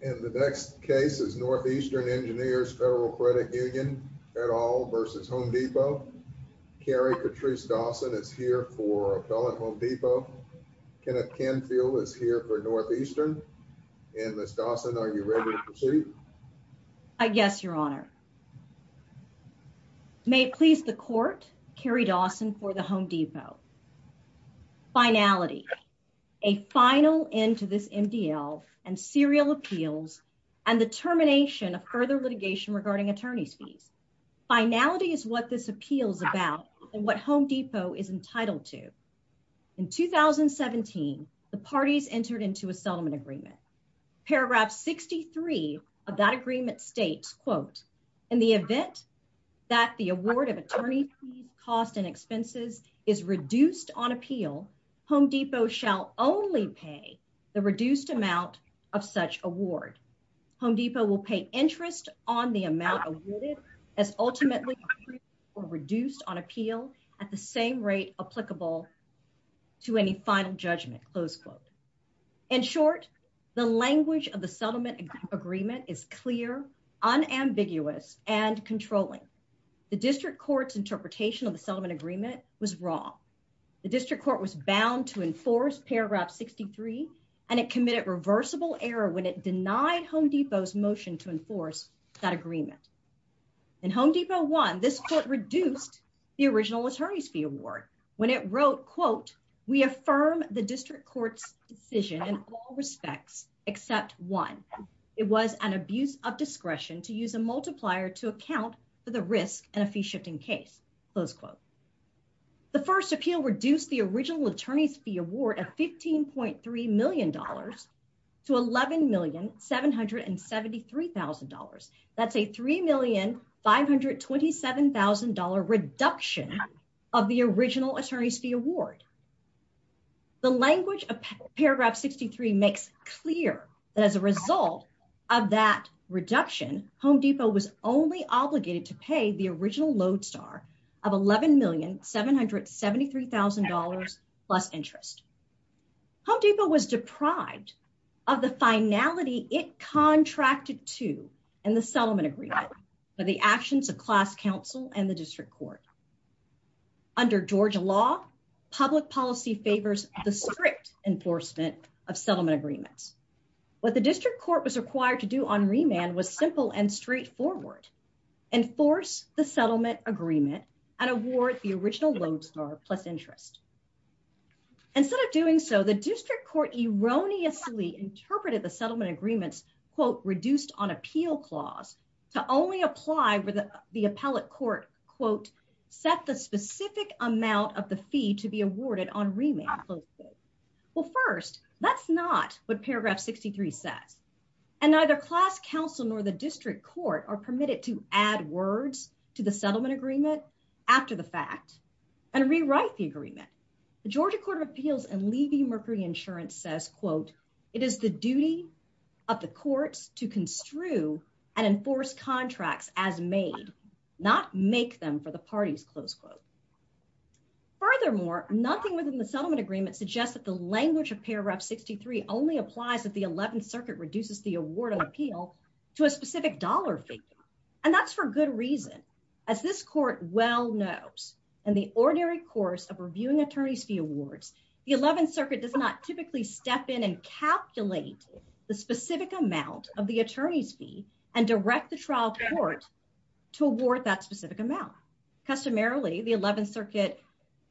And the next case is Northeastern Engineers Federal Credit Union et al. v. Home Depot. Carrie Patrice Dawson is here for Appellate Home Depot. Kenneth Canfield is here for Northeastern. And Ms. Dawson, are you ready to proceed? I guess, Your Honor. May it please the Court, Carrie Dawson for the Home Depot. Finality. A final end to this MDL and serial appeals and the termination of further litigation regarding attorney's fees. Finality is what this appeal is about and what Home Depot is entitled to. In 2017, the parties entered into a settlement agreement. Paragraph 63 of that agreement states, In the event that the award of attorney fees, costs, and expenses is reduced on appeal, Home Depot shall only pay the reduced amount of such award. Home Depot will pay interest on the amount awarded as ultimately reduced on appeal at the same rate applicable to any final and controlling. The District Court's interpretation of the settlement agreement was wrong. The District Court was bound to enforce Paragraph 63 and it committed reversible error when it denied Home Depot's motion to enforce that agreement. In Home Depot 1, this court reduced the original attorney's fee award when it wrote, We affirm the District Court's decision in all respects except one. It was an abuse of discretion to use a multiplier to account for the risk in a fee shifting case. The first appeal reduced the original attorney's fee award at $15.3 million to $11,773,000. That's a $3,527,000 reduction of the original attorney's fee award. The language of Paragraph 63 makes clear that as a result of that reduction, Home Depot was only obligated to pay the original load star of $11,773,000 plus interest. Home Depot was deprived of the finality it contracted to in the settlement agreement for the actions of class counsel and the District Court. Under Georgia law, public policy favors the enforcement of settlement agreements. What the District Court was required to do on remand was simple and straightforward. Enforce the settlement agreement and award the original load star plus interest. Instead of doing so, the District Court erroneously interpreted the settlement agreements, quote, reduced on appeal clause to only apply where the appellate court, quote, set the specific amount of the fee to be awarded on remand. Well, first, that's not what Paragraph 63 says. And neither class counsel nor the District Court are permitted to add words to the settlement agreement after the fact and rewrite the agreement. The Georgia Court of Appeals and Levy Mercury Insurance says, quote, it is the duty of the courts to construe and make them for the parties, close quote. Furthermore, nothing within the settlement agreement suggests that the language of Paragraph 63 only applies if the 11th Circuit reduces the award on appeal to a specific dollar figure. And that's for good reason. As this court well knows, in the ordinary course of reviewing attorney's fee awards, the 11th Circuit does not typically step in and calculate the specific amount of the attorney's fee and direct the trial court to award that specific amount. Customarily, the 11th Circuit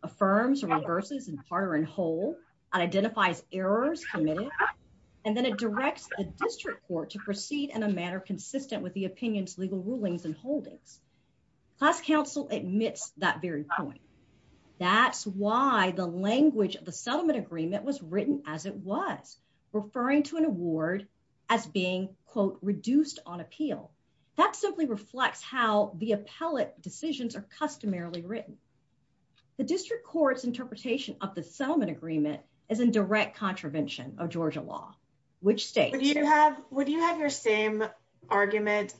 affirms or reverses in part or in whole and identifies errors committed, and then it directs the District Court to proceed in a manner consistent with the opinion's legal rulings and holdings. Class counsel admits that very point. That's why the language of the settlement agreement was written as it was, referring to an how the appellate decisions are customarily written. The District Court's interpretation of the settlement agreement is in direct contravention of Georgia law, which states you have, would you have your same argument?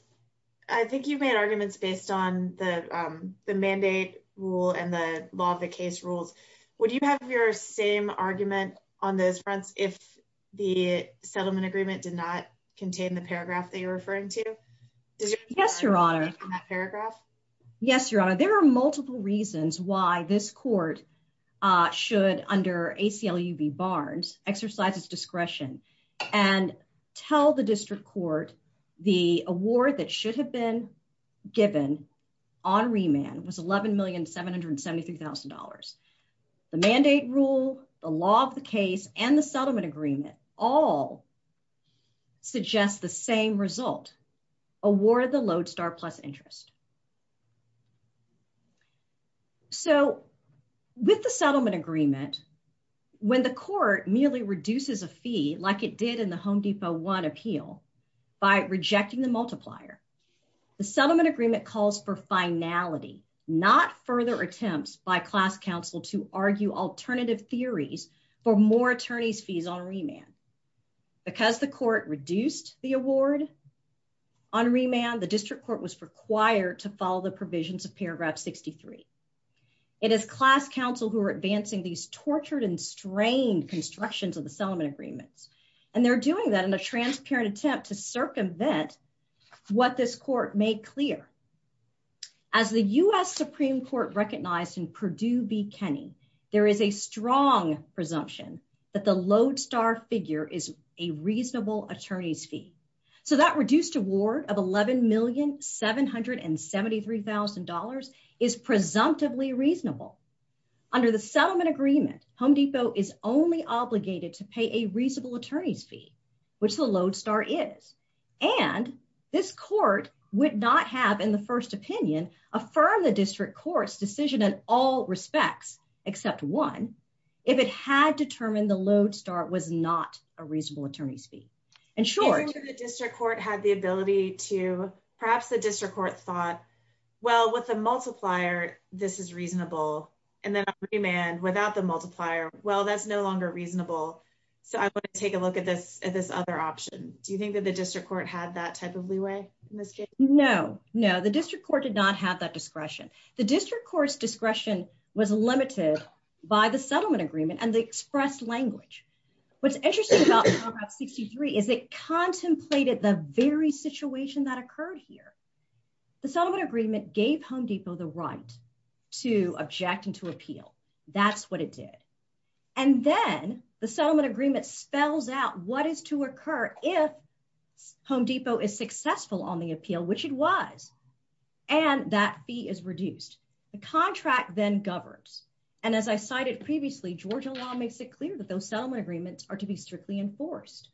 I think you've made arguments based on the mandate rule and the law of the case rules. Would you have your same argument on those fronts if the settlement agreement did not contain the paragraph that you're referring to? Yes, Your Honor. Yes, Your Honor. There are multiple reasons why this court should, under ACLUB Barnes, exercise its discretion and tell the District Court the award that should have been given on remand was $11,773,000. The mandate rule, the law of the case, and the lodestar plus interest. With the settlement agreement, when the court merely reduces a fee like it did in the Home Depot one appeal by rejecting the multiplier, the settlement agreement calls for finality, not further attempts by class counsel to argue alternative theories for more attorneys' fees on remand. Because the court reduced the award on remand, the District Court was required to follow the provisions of paragraph 63. It is class counsel who are advancing these tortured and strained constructions of the settlement agreements, and they're doing that in a transparent attempt to circumvent what this court made clear. As the U.S. Supreme Court recognized in Purdue v. Kenney, there is a strong presumption that the lodestar figure is a reasonable attorney's fee. So that reduced award of $11,773,000 is presumptively reasonable. Under the settlement agreement, Home Depot is only obligated to pay a reasonable attorney's fee, which the lodestar is. And this court would not have, in the first opinion, affirmed the District Court's decision in all respects, except one, if it had determined the lodestar was not a reasonable attorney's fee. In short, the District Court had the ability to perhaps the District Court thought, well, with the multiplier, this is reasonable. And then remand without the multiplier. Well, that's no longer reasonable. So I want to take a look at this at this other option. Do you think that the District Court had that type of leeway? No, no, the District Court did not have that discretion. The District Court's discretion was limited by the settlement agreement and the express language. What's interesting about paragraph 63 is it contemplated the very situation that occurred here. The settlement agreement gave Home Depot the right to object and to appeal. That's what it did. And then the settlement agreement spells out what is to occur if Home Depot is is reduced. The contract then governs. And as I cited previously, Georgia law makes it clear that those settlement agreements are to be strictly enforced.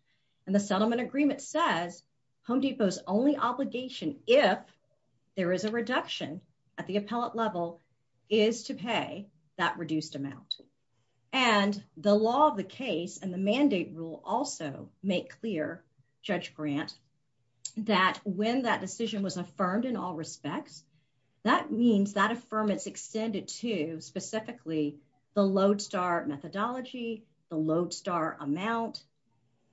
And the settlement agreement says Home Depot's only obligation, if there is a reduction at the appellate level, is to pay that reduced amount. And the law of the case and the mandate rule also make clear, Judge Grant, that when that decision was affirmed in all respects, that means that affirmance extended to specifically the lodestar methodology, the lodestar amount,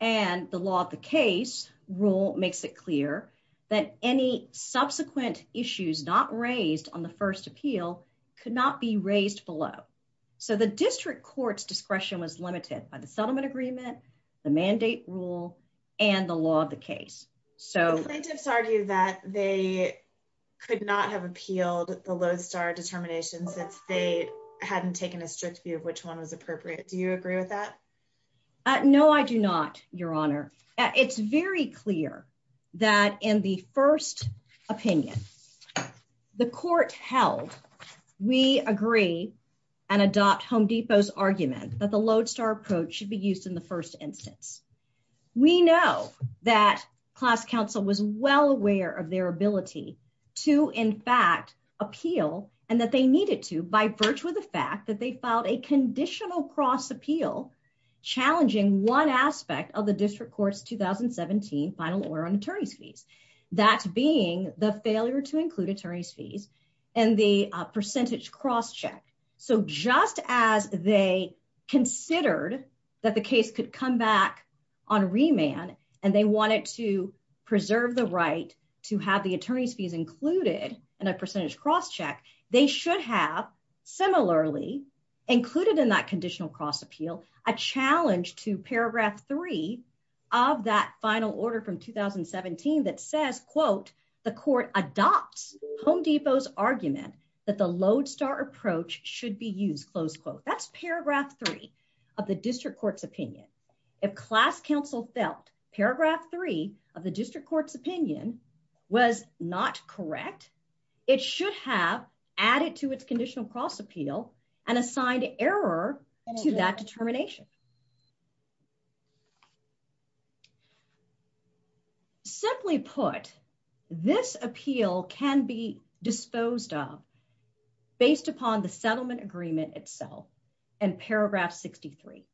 and the law of the case rule makes it clear that any subsequent issues not raised on the first appeal could not be raised below. So the District Court's discretion was limited by the settlement agreement, the mandate rule, and the law of the case. So plaintiffs argue that they could not have appealed the lodestar determination since they hadn't taken a strict view of which one was appropriate. Do you agree with that? No, I do not, Your Honor. It's very clear that in the first opinion, the court held we agree and adopt Home Depot's argument that the lodestar approach should be used in the first instance. We know that class counsel was well aware of their ability to, in fact, appeal and that they needed to by virtue of the fact that they filed a conditional cross appeal challenging one aspect of the District Court's 2017 final order on attorney's fees, that being the failure to include attorney's fees and the percentage cross check. So just as they considered that the case could come back on remand and they wanted to preserve the right to have the attorney's fees included in a percentage cross check, they should have similarly included in that conditional cross appeal a challenge to paragraph three of that final order from 2017 that says, quote, the court adopts Home Depot's argument that the lodestar approach should be used, close quote. That's paragraph three of the District Court's opinion. If class counsel felt paragraph three of the District Court's opinion was not correct, it should have added to its conditional cross appeal and assigned error to that determination. Simply put, this appeal can be disposed of based upon the settlement agreement itself and paragraph 63.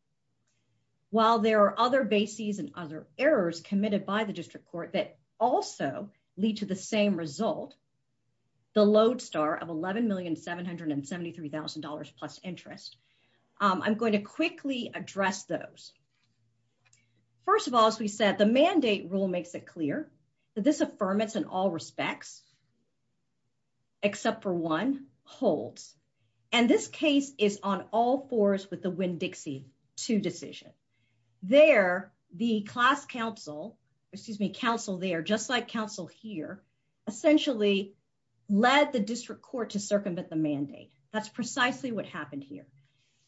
While there are other bases and other errors committed by the District Court that also lead to the same result, the lodestar of $11,773,000 plus interest, I'm going to quickly address those. First of all, as we said, the mandate rule makes it clear that this affirmance in all respects, except for one, holds. And this case is on all fours with the Winn-Dixie 2 decision. There, the class counsel, excuse me, counsel there, just like counsel here, essentially led the District Court to circumvent the mandate. That's precisely what happened here.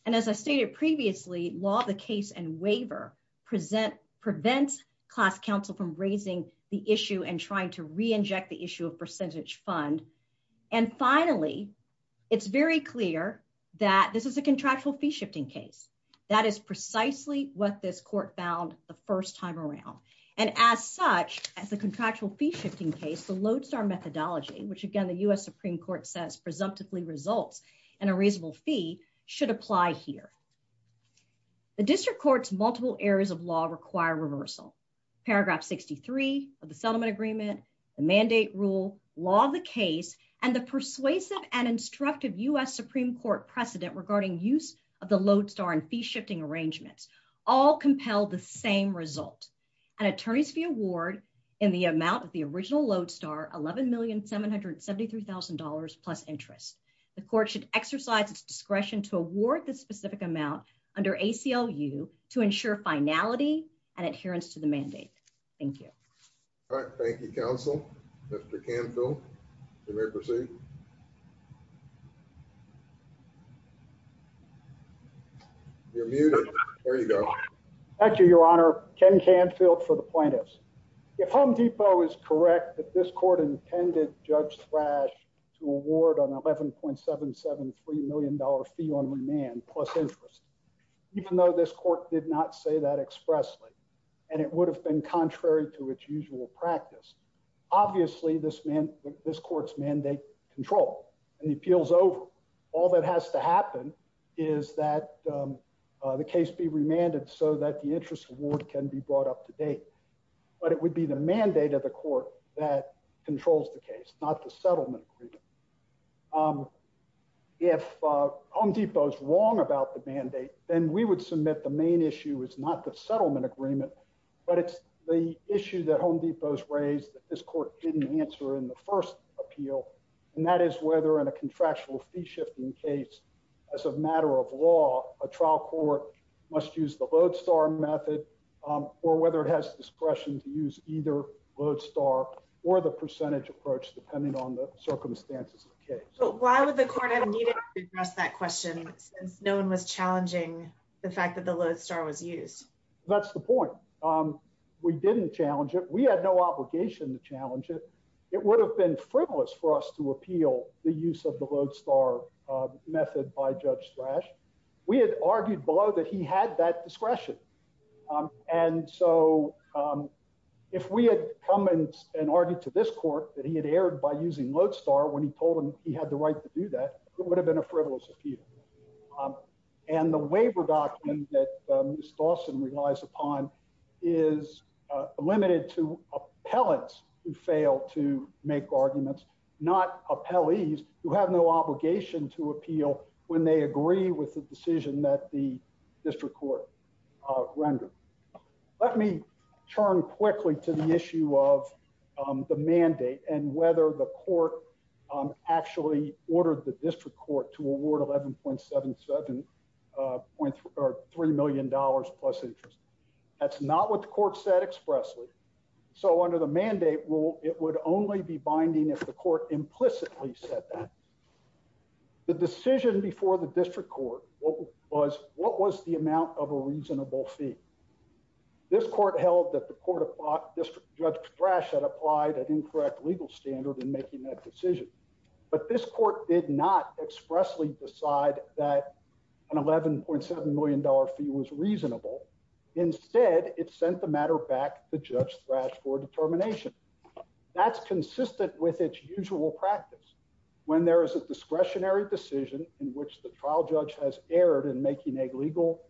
And as I stated previously, law of the case and waiver prevent class counsel from raising the issue and trying to re-inject the issue of percentage fund. And finally, it's very clear that this is a contractual fee shifting case. That is precisely what this court found the first time around. And as such, as a contractual fee shifting case, the lodestar methodology, which again the U.S. Supreme Court says presumptively results in a reasonable fee, should apply here. The District Court's multiple areas of law require reversal. Paragraph 63 of the settlement agreement, the mandate rule, law of the case, and the persuasive and instructive U.S. Supreme Court precedent regarding use of the lodestar and fee shifting arrangements, all compel the same result. An attorney's fee award in the amount of the original lodestar, $11,773,000 plus interest. The court should exercise its discretion to award the specific amount under ACLU to ensure finality and adherence to the mandate. Thank you. All right. Thank you, counsel. Mr. Canfield, you may proceed. You're muted. There you go. Thank you, your honor. Ken Canfield for the plaintiffs. If Home Depot is correct that this court intended Judge Thrash to award an $11,773,000 fee on remand plus interest, even though this court did not say that expressly and it would have been contrary to its usual practice, obviously this man, this court's mandate control and the appeals over. All that has to happen is that the case be remanded so that the interest award can be brought up to date. But it would be the mandate of the court that controls the case, not the settlement. If Home Depot's wrong about the mandate, then we would submit the main issue is not the settlement agreement, but it's the issue that Home Depot's raised that this court didn't answer in the first appeal. And that is whether in a contractual fee shifting case, as a matter of law, a trial court must use the lodestar method or whether it has discretion to use either lodestar or the percentage approach depending on the circumstances of the case. But why would the court have needed to address that question since no one was challenging the fact that the lodestar was used? That's the point. We didn't challenge it. We had no obligation to challenge it. It would have been frivolous for us to appeal the use of the lodestar method by Judge Thrash. We had argued below that he had that discretion. And so if we had come and argued to this court that he had erred by using lodestar when he told him he had the right to do that, it would have been a frivolous appeal. And the waiver document that Ms. Dawson relies upon is limited to appellants who fail to make arguments, not appellees who have no obligation to appeal when they agree with the decision that the district court rendered. Let me turn quickly to the issue of the mandate and whether the court actually ordered the district court to award $11.77 or $3 million plus interest. That's not what the court said expressly. So under the mandate rule, it would only be binding if the court implicitly said that. The decision before the district court was, what was the amount of a reasonable fee? This court held that the court district Judge Thrash had applied an incorrect legal standard in making that decision. But this court did not expressly decide that an $11.7 million fee was reasonable. Instead, it sent the matter back to Judge Thrash for determination. That's consistent with its usual practice when there is a discretionary decision in which the trial judge has erred in making a legal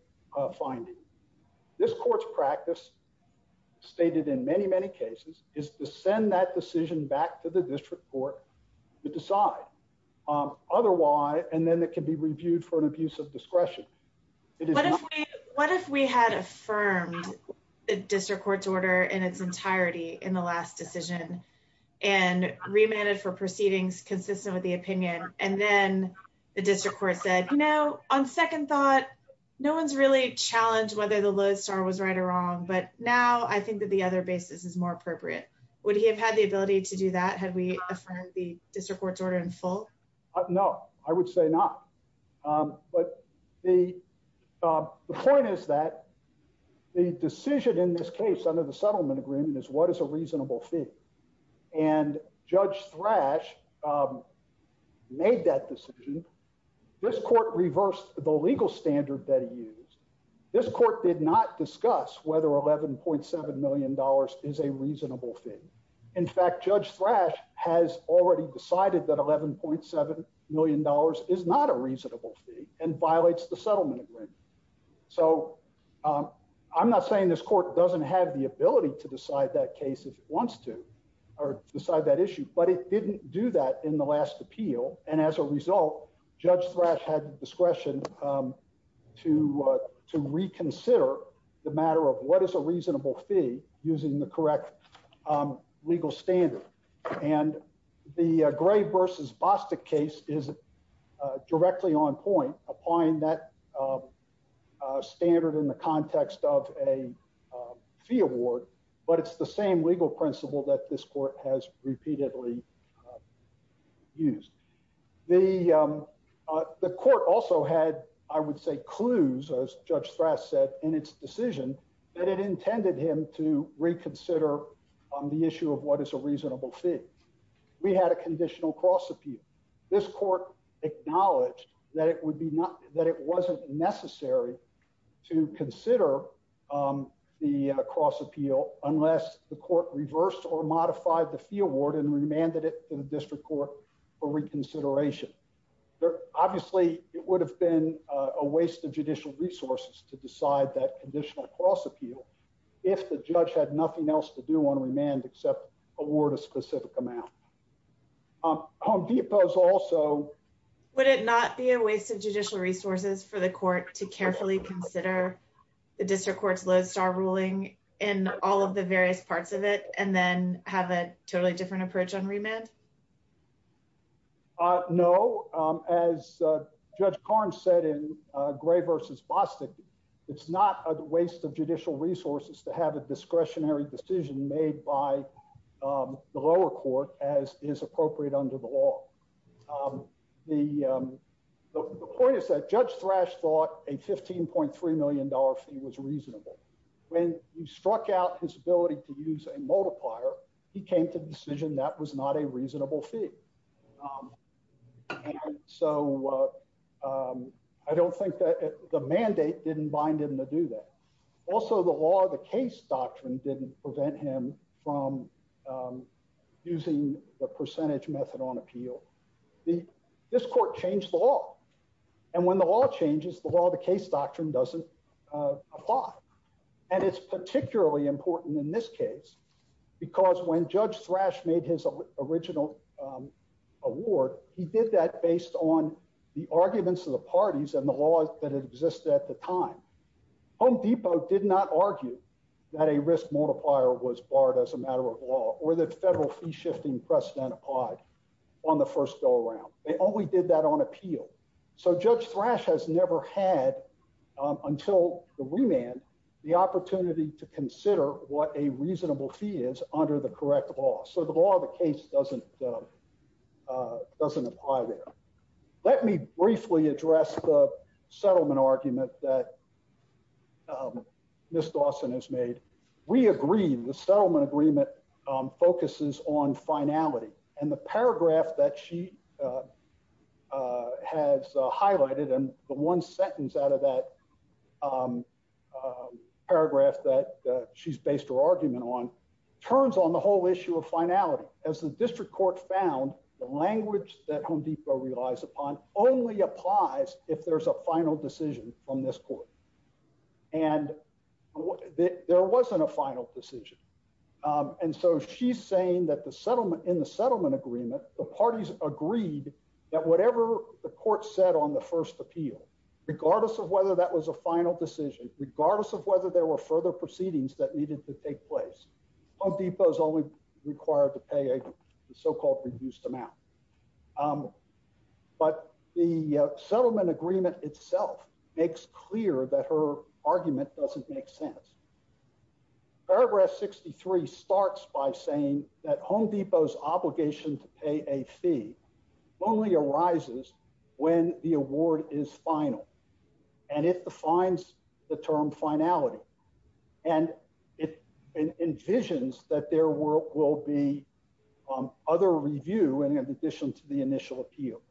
finding. This court's practice stated in many, many cases is to send that decision back to the district court to decide. Otherwise, and then it can be reviewed for an abuse of discretion. What if we had affirmed the district court's order in its entirety in the last decision and remanded for proceedings consistent with the opinion? And then the district court said, no, on second thought, no one's really challenged whether the Lowe's star was right or wrong. But now I think that the other basis is more appropriate. Would he have had the ability to do that? Had we affirmed the district court's order in full? No, I would say not. But the point is that the decision in this case under the settlement agreement is what is reasonable fee. And Judge Thrash made that decision. This court reversed the legal standard that he used. This court did not discuss whether $11.7 million is a reasonable fee. In fact, Judge Thrash has already decided that $11.7 million is not a reasonable fee and violates the settlement agreement. So I'm not saying this court doesn't have the ability to decide that case if it wants to or decide that issue. But it didn't do that in the last appeal. And as a result, Judge Thrash had discretion to reconsider the matter of what is a reasonable fee using the correct legal standard. And the Gray versus Bostic case is directly on point applying that standard in the context of a fee award. But it's the same legal principle that this court has repeatedly used. The court also had, I would say, clues, as Judge Thrash said, in its decision that it intended him to reconsider the issue of what is a reasonable fee. We had a conditional cross-appeal. This court acknowledged that it wasn't necessary to consider the cross-appeal unless the court reversed or modified the fee award and remanded it to the district court for reconsideration. Obviously, it would have been a waste of judicial resources to decide that conditional cross-appeal if the judge had nothing else to do on remand except award a specific amount. Home Depot's also... Would it not be a waste of judicial resources for the court to carefully consider the district court's lodestar ruling in all of the various parts of it and then have a totally different approach on remand? No. As Judge Korn said in Gray versus Bostic, it's not a waste of judicial resources to have a discretionary decision made by the lower court as is appropriate under the law. The point is that Judge Thrash thought a $15.3 million fee was reasonable. When he struck out his ability to use a multiplier, he came to the decision that was not a reasonable fee. I don't think that... The mandate didn't bind him to do that. Also, the law of the case doctrine didn't prevent him from using the percentage method on appeal. This court changed the law. When the law changes, the law of the case doctrine doesn't apply. It's particularly important in this case because when Judge Thrash made his original award, he did that based on the arguments of the parties and the laws that existed at the time. Home Depot did not argue that a risk multiplier was barred as a matter of law or that federal fee-shifting precedent applied on the first go-around. They only did that on appeal. So Judge Thrash has never had, until the remand, the opportunity to consider what a reasonable fee is under the correct law. So the law of the case doesn't apply there. Let me briefly address the point that Ms. Dawson has made. We agree, the settlement agreement focuses on finality. And the paragraph that she has highlighted, and the one sentence out of that paragraph that she's based her argument on, turns on the whole issue of finality. As the District Court found, the language that Home Depot relies upon only applies if there's a final decision from this court. And there wasn't a final decision. And so she's saying that in the settlement agreement, the parties agreed that whatever the court said on the first appeal, regardless of whether that was a final decision, regardless of whether there were further proceedings that needed to take place, Home Depot is only required to pay a so-called reduced amount. But the settlement agreement itself makes clear that her argument doesn't make sense. Paragraph 63 starts by saying that Home Depot's obligation to pay a fee only arises when the award is final. And it defines the term finality. And it envisions that there will be other review in addition to the initial appeal.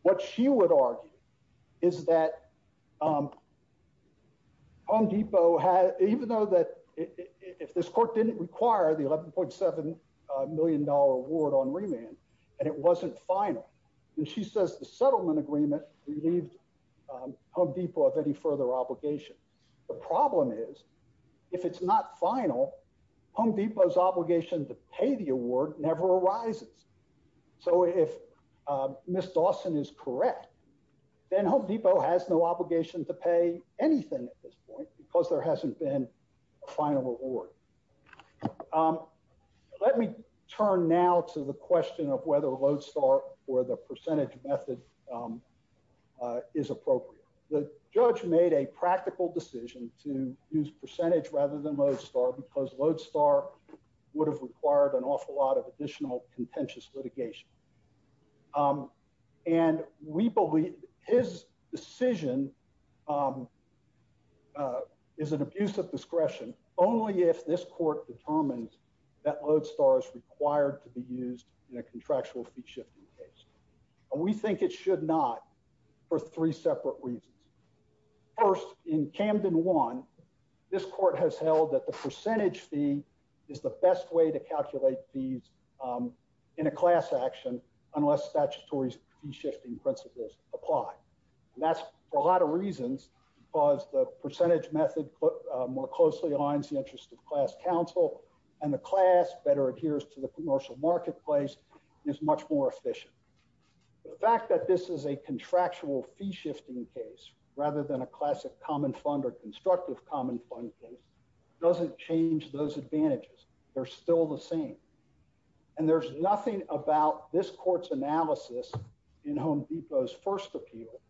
What she would argue is that Home Depot had, even though that if this court didn't require the $11.7 million award on remand, and it wasn't final, and she says the settlement agreement relieved Home Depot of any further obligation. The problem is, if it's not final, Home Depot's obligation to pay the award never arises. So if Ms. Dawson is correct, then Home Depot has no obligation to pay anything at this point because there hasn't been a final award. Let me turn now to the question of whether Lodestar or the percentage method is appropriate. The judge made a practical decision to use percentage rather than Lodestar because Lodestar would have required an awful lot of additional contentious litigation. And we believe his decision is an abuse of discretion only if this court determines that Lodestar is required to be used in a contractual fee-shifting case. And we think it should not for three separate reasons. First, in Camden 1, this court has held that the percentage fee is the best way to calculate fees in a class action unless statutory fee-shifting principles apply. And that's for a lot of reasons because the percentage method more closely aligns the counsel and the class better adheres to the commercial marketplace and is much more efficient. The fact that this is a contractual fee-shifting case rather than a classic common fund or constructive common fund case doesn't change those advantages. They're still the same. And there's nothing about this court's analysis in Home Depot's first appeal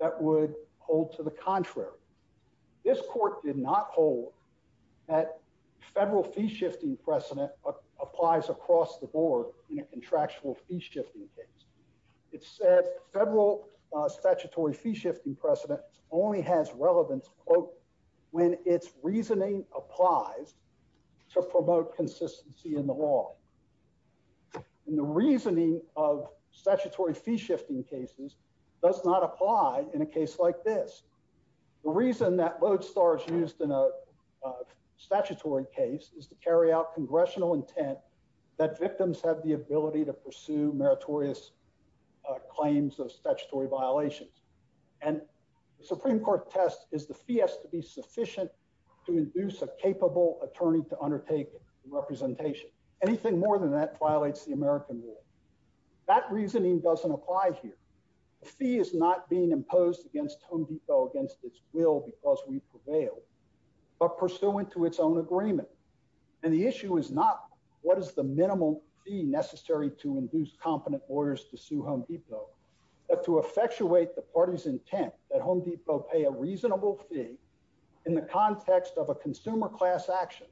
that would hold to contrary. This court did not hold that federal fee-shifting precedent applies across the board in a contractual fee-shifting case. It said federal statutory fee-shifting precedent only has relevance, quote, when its reasoning applies to promote consistency in the law. And the reasoning of statutory fee-shifting cases does not apply in a case like this. The reason that Lodestar is used in a statutory case is to carry out congressional intent that victims have the ability to pursue meritorious claims of statutory violations. And the Supreme Court test is the fee has to be sufficient to induce a capable attorney to undertake representation. Anything more than that violates the American law. That reasoning doesn't apply here. The fee is not being imposed against Home Depot against its will because we prevail, but pursuant to its own agreement. And the issue is not what is the minimal fee necessary to induce competent lawyers to sue Home Depot, but to effectuate the party's intent that Home Depot pay a reasonable fee in the context of a consumer class action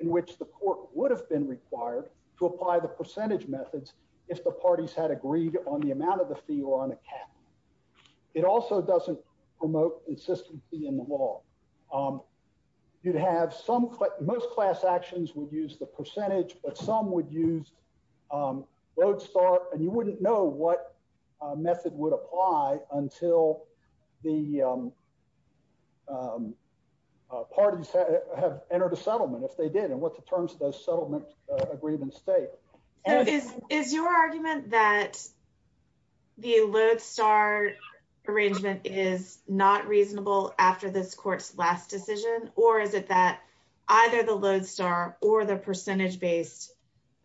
in which the court would have been on account of the fee or on account. It also doesn't promote consistency in the law. You'd have some, most class actions would use the percentage, but some would use Lodestar, and you wouldn't know what method would apply until the parties have entered a settlement, if they did, and what the terms of those settlement agreements state. Is your argument that the Lodestar arrangement is not reasonable after this court's last decision, or is it that either the Lodestar or the percentage-based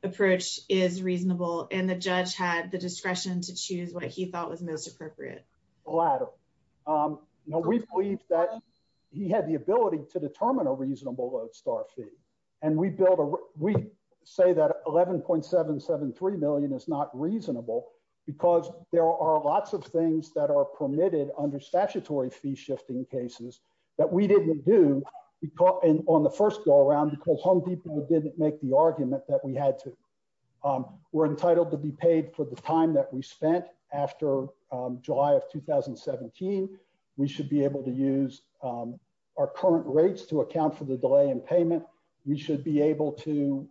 approach is reasonable and the judge had the discretion to choose what he thought was most appropriate? The latter. You know, we believe that he had the ability to determine a reasonable Lodestar fee. And we say that 11.773 million is not reasonable because there are lots of things that are permitted under statutory fee shifting cases that we didn't do on the first go around because Home Depot didn't make the argument that we had to. We're entitled to be paid for the time that we spent after July of 2017. We should be able to use our current rates to account for the delay in payment. We should be able to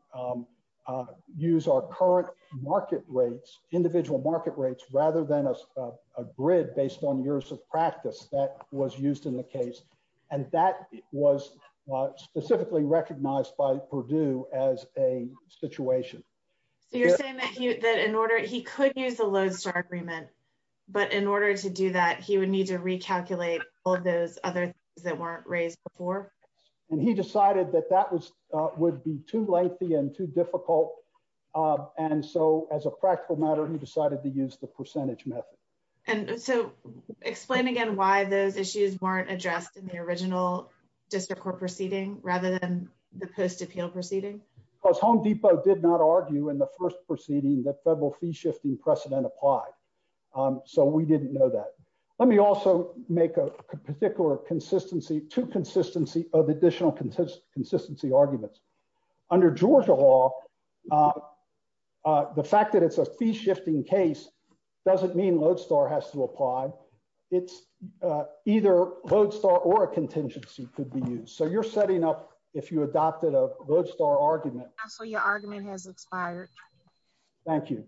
use our current market rates, individual market rates, rather than a grid based on years of practice that was used in the case. And that was specifically recognized by Purdue as a situation. So you're saying that he could use the Lodestar agreement, but in order to do that, he would need to recalculate all of those other things that weren't raised before? And he decided that that would be too lengthy and too difficult. And so as a practical matter, he decided to use the percentage method. And so explain again why those issues weren't addressed in the original district court proceeding rather than the post appeal proceeding? Because Home Depot did not argue in the first proceeding that federal fee shifting precedent applied. So we didn't know that. Let me also make a particular consistency to consistency of additional consistency arguments. Under Georgia law, the fact that it's a fee shifting case doesn't mean Lodestar has to apply. It's either Lodestar or a contingency could be used. So you're setting up if you adopted a Lodestar argument. So your argument has expired. Thank you.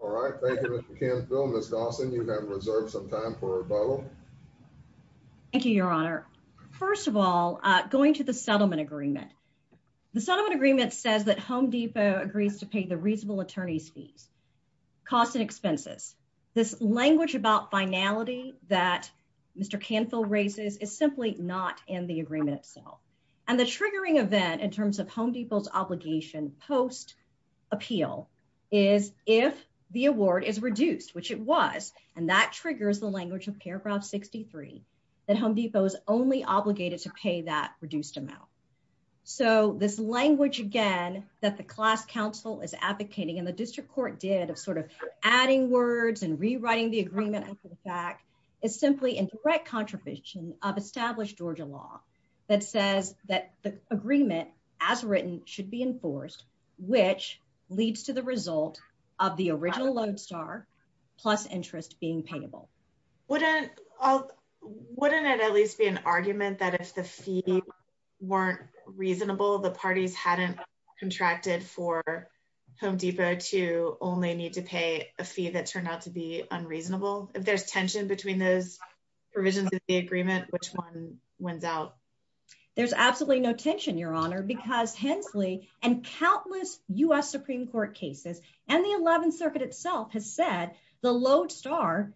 All right. Thank you, Mr. Canfield. Ms. Dawson, you have reserved some time for rebuttal. Thank you, your honor. First of all, going to the settlement agreement. The settlement agreement says that Home Depot agrees to pay the reasonable attorney's fees, cost and expenses. This language about finality that Mr. Canfield raises is simply not in the agreement itself. And the triggering event in terms of Home Depot's obligation post appeal is if the award is reduced, which it was. And that triggers the language of paragraph 63, that Home Depot is only obligated to pay that reduced amount. So this language, again, that the class counsel is advocating and the district court did of sort of adding words and rewriting the agreement after the fact is simply in direct contradiction of established Georgia law that says that the agreement as written should be enforced, which leads to the result of the original Lodestar plus interest being payable. Wouldn't it at least be an argument that if the fee weren't reasonable, the parties hadn't contracted for Home Depot to only need to pay a fee that turned out to be unreasonable. If there's tension between those provisions of the agreement, which one wins out. There's absolutely no tension, Your Honor, because Hensley and countless US Supreme Court cases and the 11th Circuit itself has said the Lodestar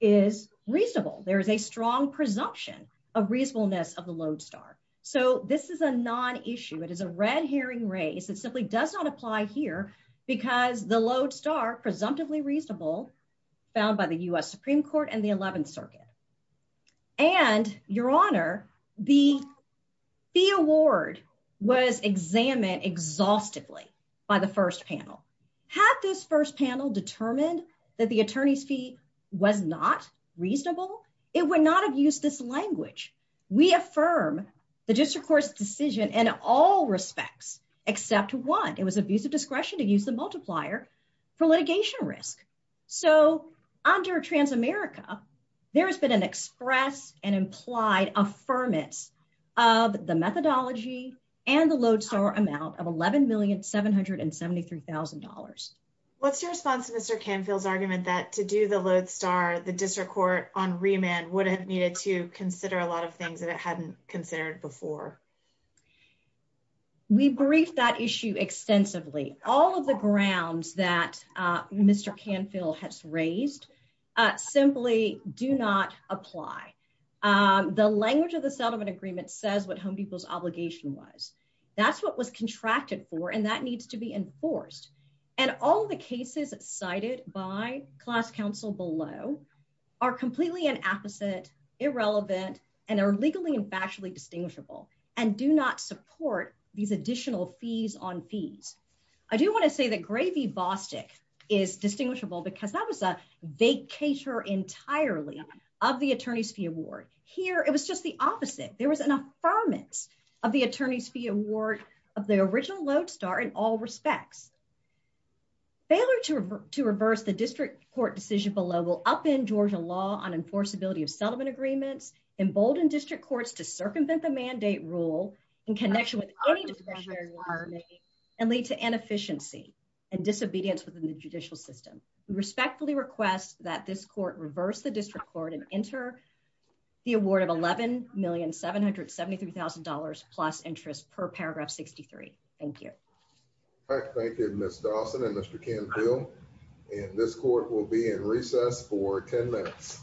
is reasonable. There is a strong presumption of reasonableness of the Lodestar. So this is a non issue. It is a red herring race. It simply does not apply here because the Lodestar presumptively reasonable found by the US Supreme Court and the 11th Circuit. And Your Honor, the award was examined exhaustively by the first panel. Had this first panel determined that the attorney's fee was not reasonable, it would not have used this language. We affirm the district court's decision in all respects, except one, it was abusive discretion to use the multiplier for litigation risk. So under Transamerica, there has been an express and implied affirmance of the methodology and the Lodestar amount of $11,773,000. What's your response to Mr. Canfield's argument that to do the Lodestar, the district court on remand would have needed to consider a lot of things that it hadn't considered before? We briefed that issue extensively. All of the grounds that Mr. Canfield has raised, simply do not apply. The language of the settlement agreement says what home people's obligation was. That's what was contracted for and that needs to be enforced. And all the cases cited by class counsel below are completely an opposite, irrelevant, and are legally and factually distinguishable and do not support these additional fees on fees. I do want to say that Gravy-Bostick is distinguishable because that was a vacator entirely of the attorney's fee award. Here, it was just the opposite. There was an affirmance of the attorney's fee award of the original Lodestar in all respects. Failure to reverse the district court decision below will upend Georgia law on enforceability of settlement agreements, embolden district courts to circumvent the mandate rule in connection with any discretionary order and lead to inefficiency and disobedience within the judicial system. We respectfully request that this court reverse the district court and enter the award of $11,773,000 plus interest per paragraph 63. Thank you. All right. Thank you, Ms. Dawson and Mr. Canfield. And this court will be in recess for 10 minutes.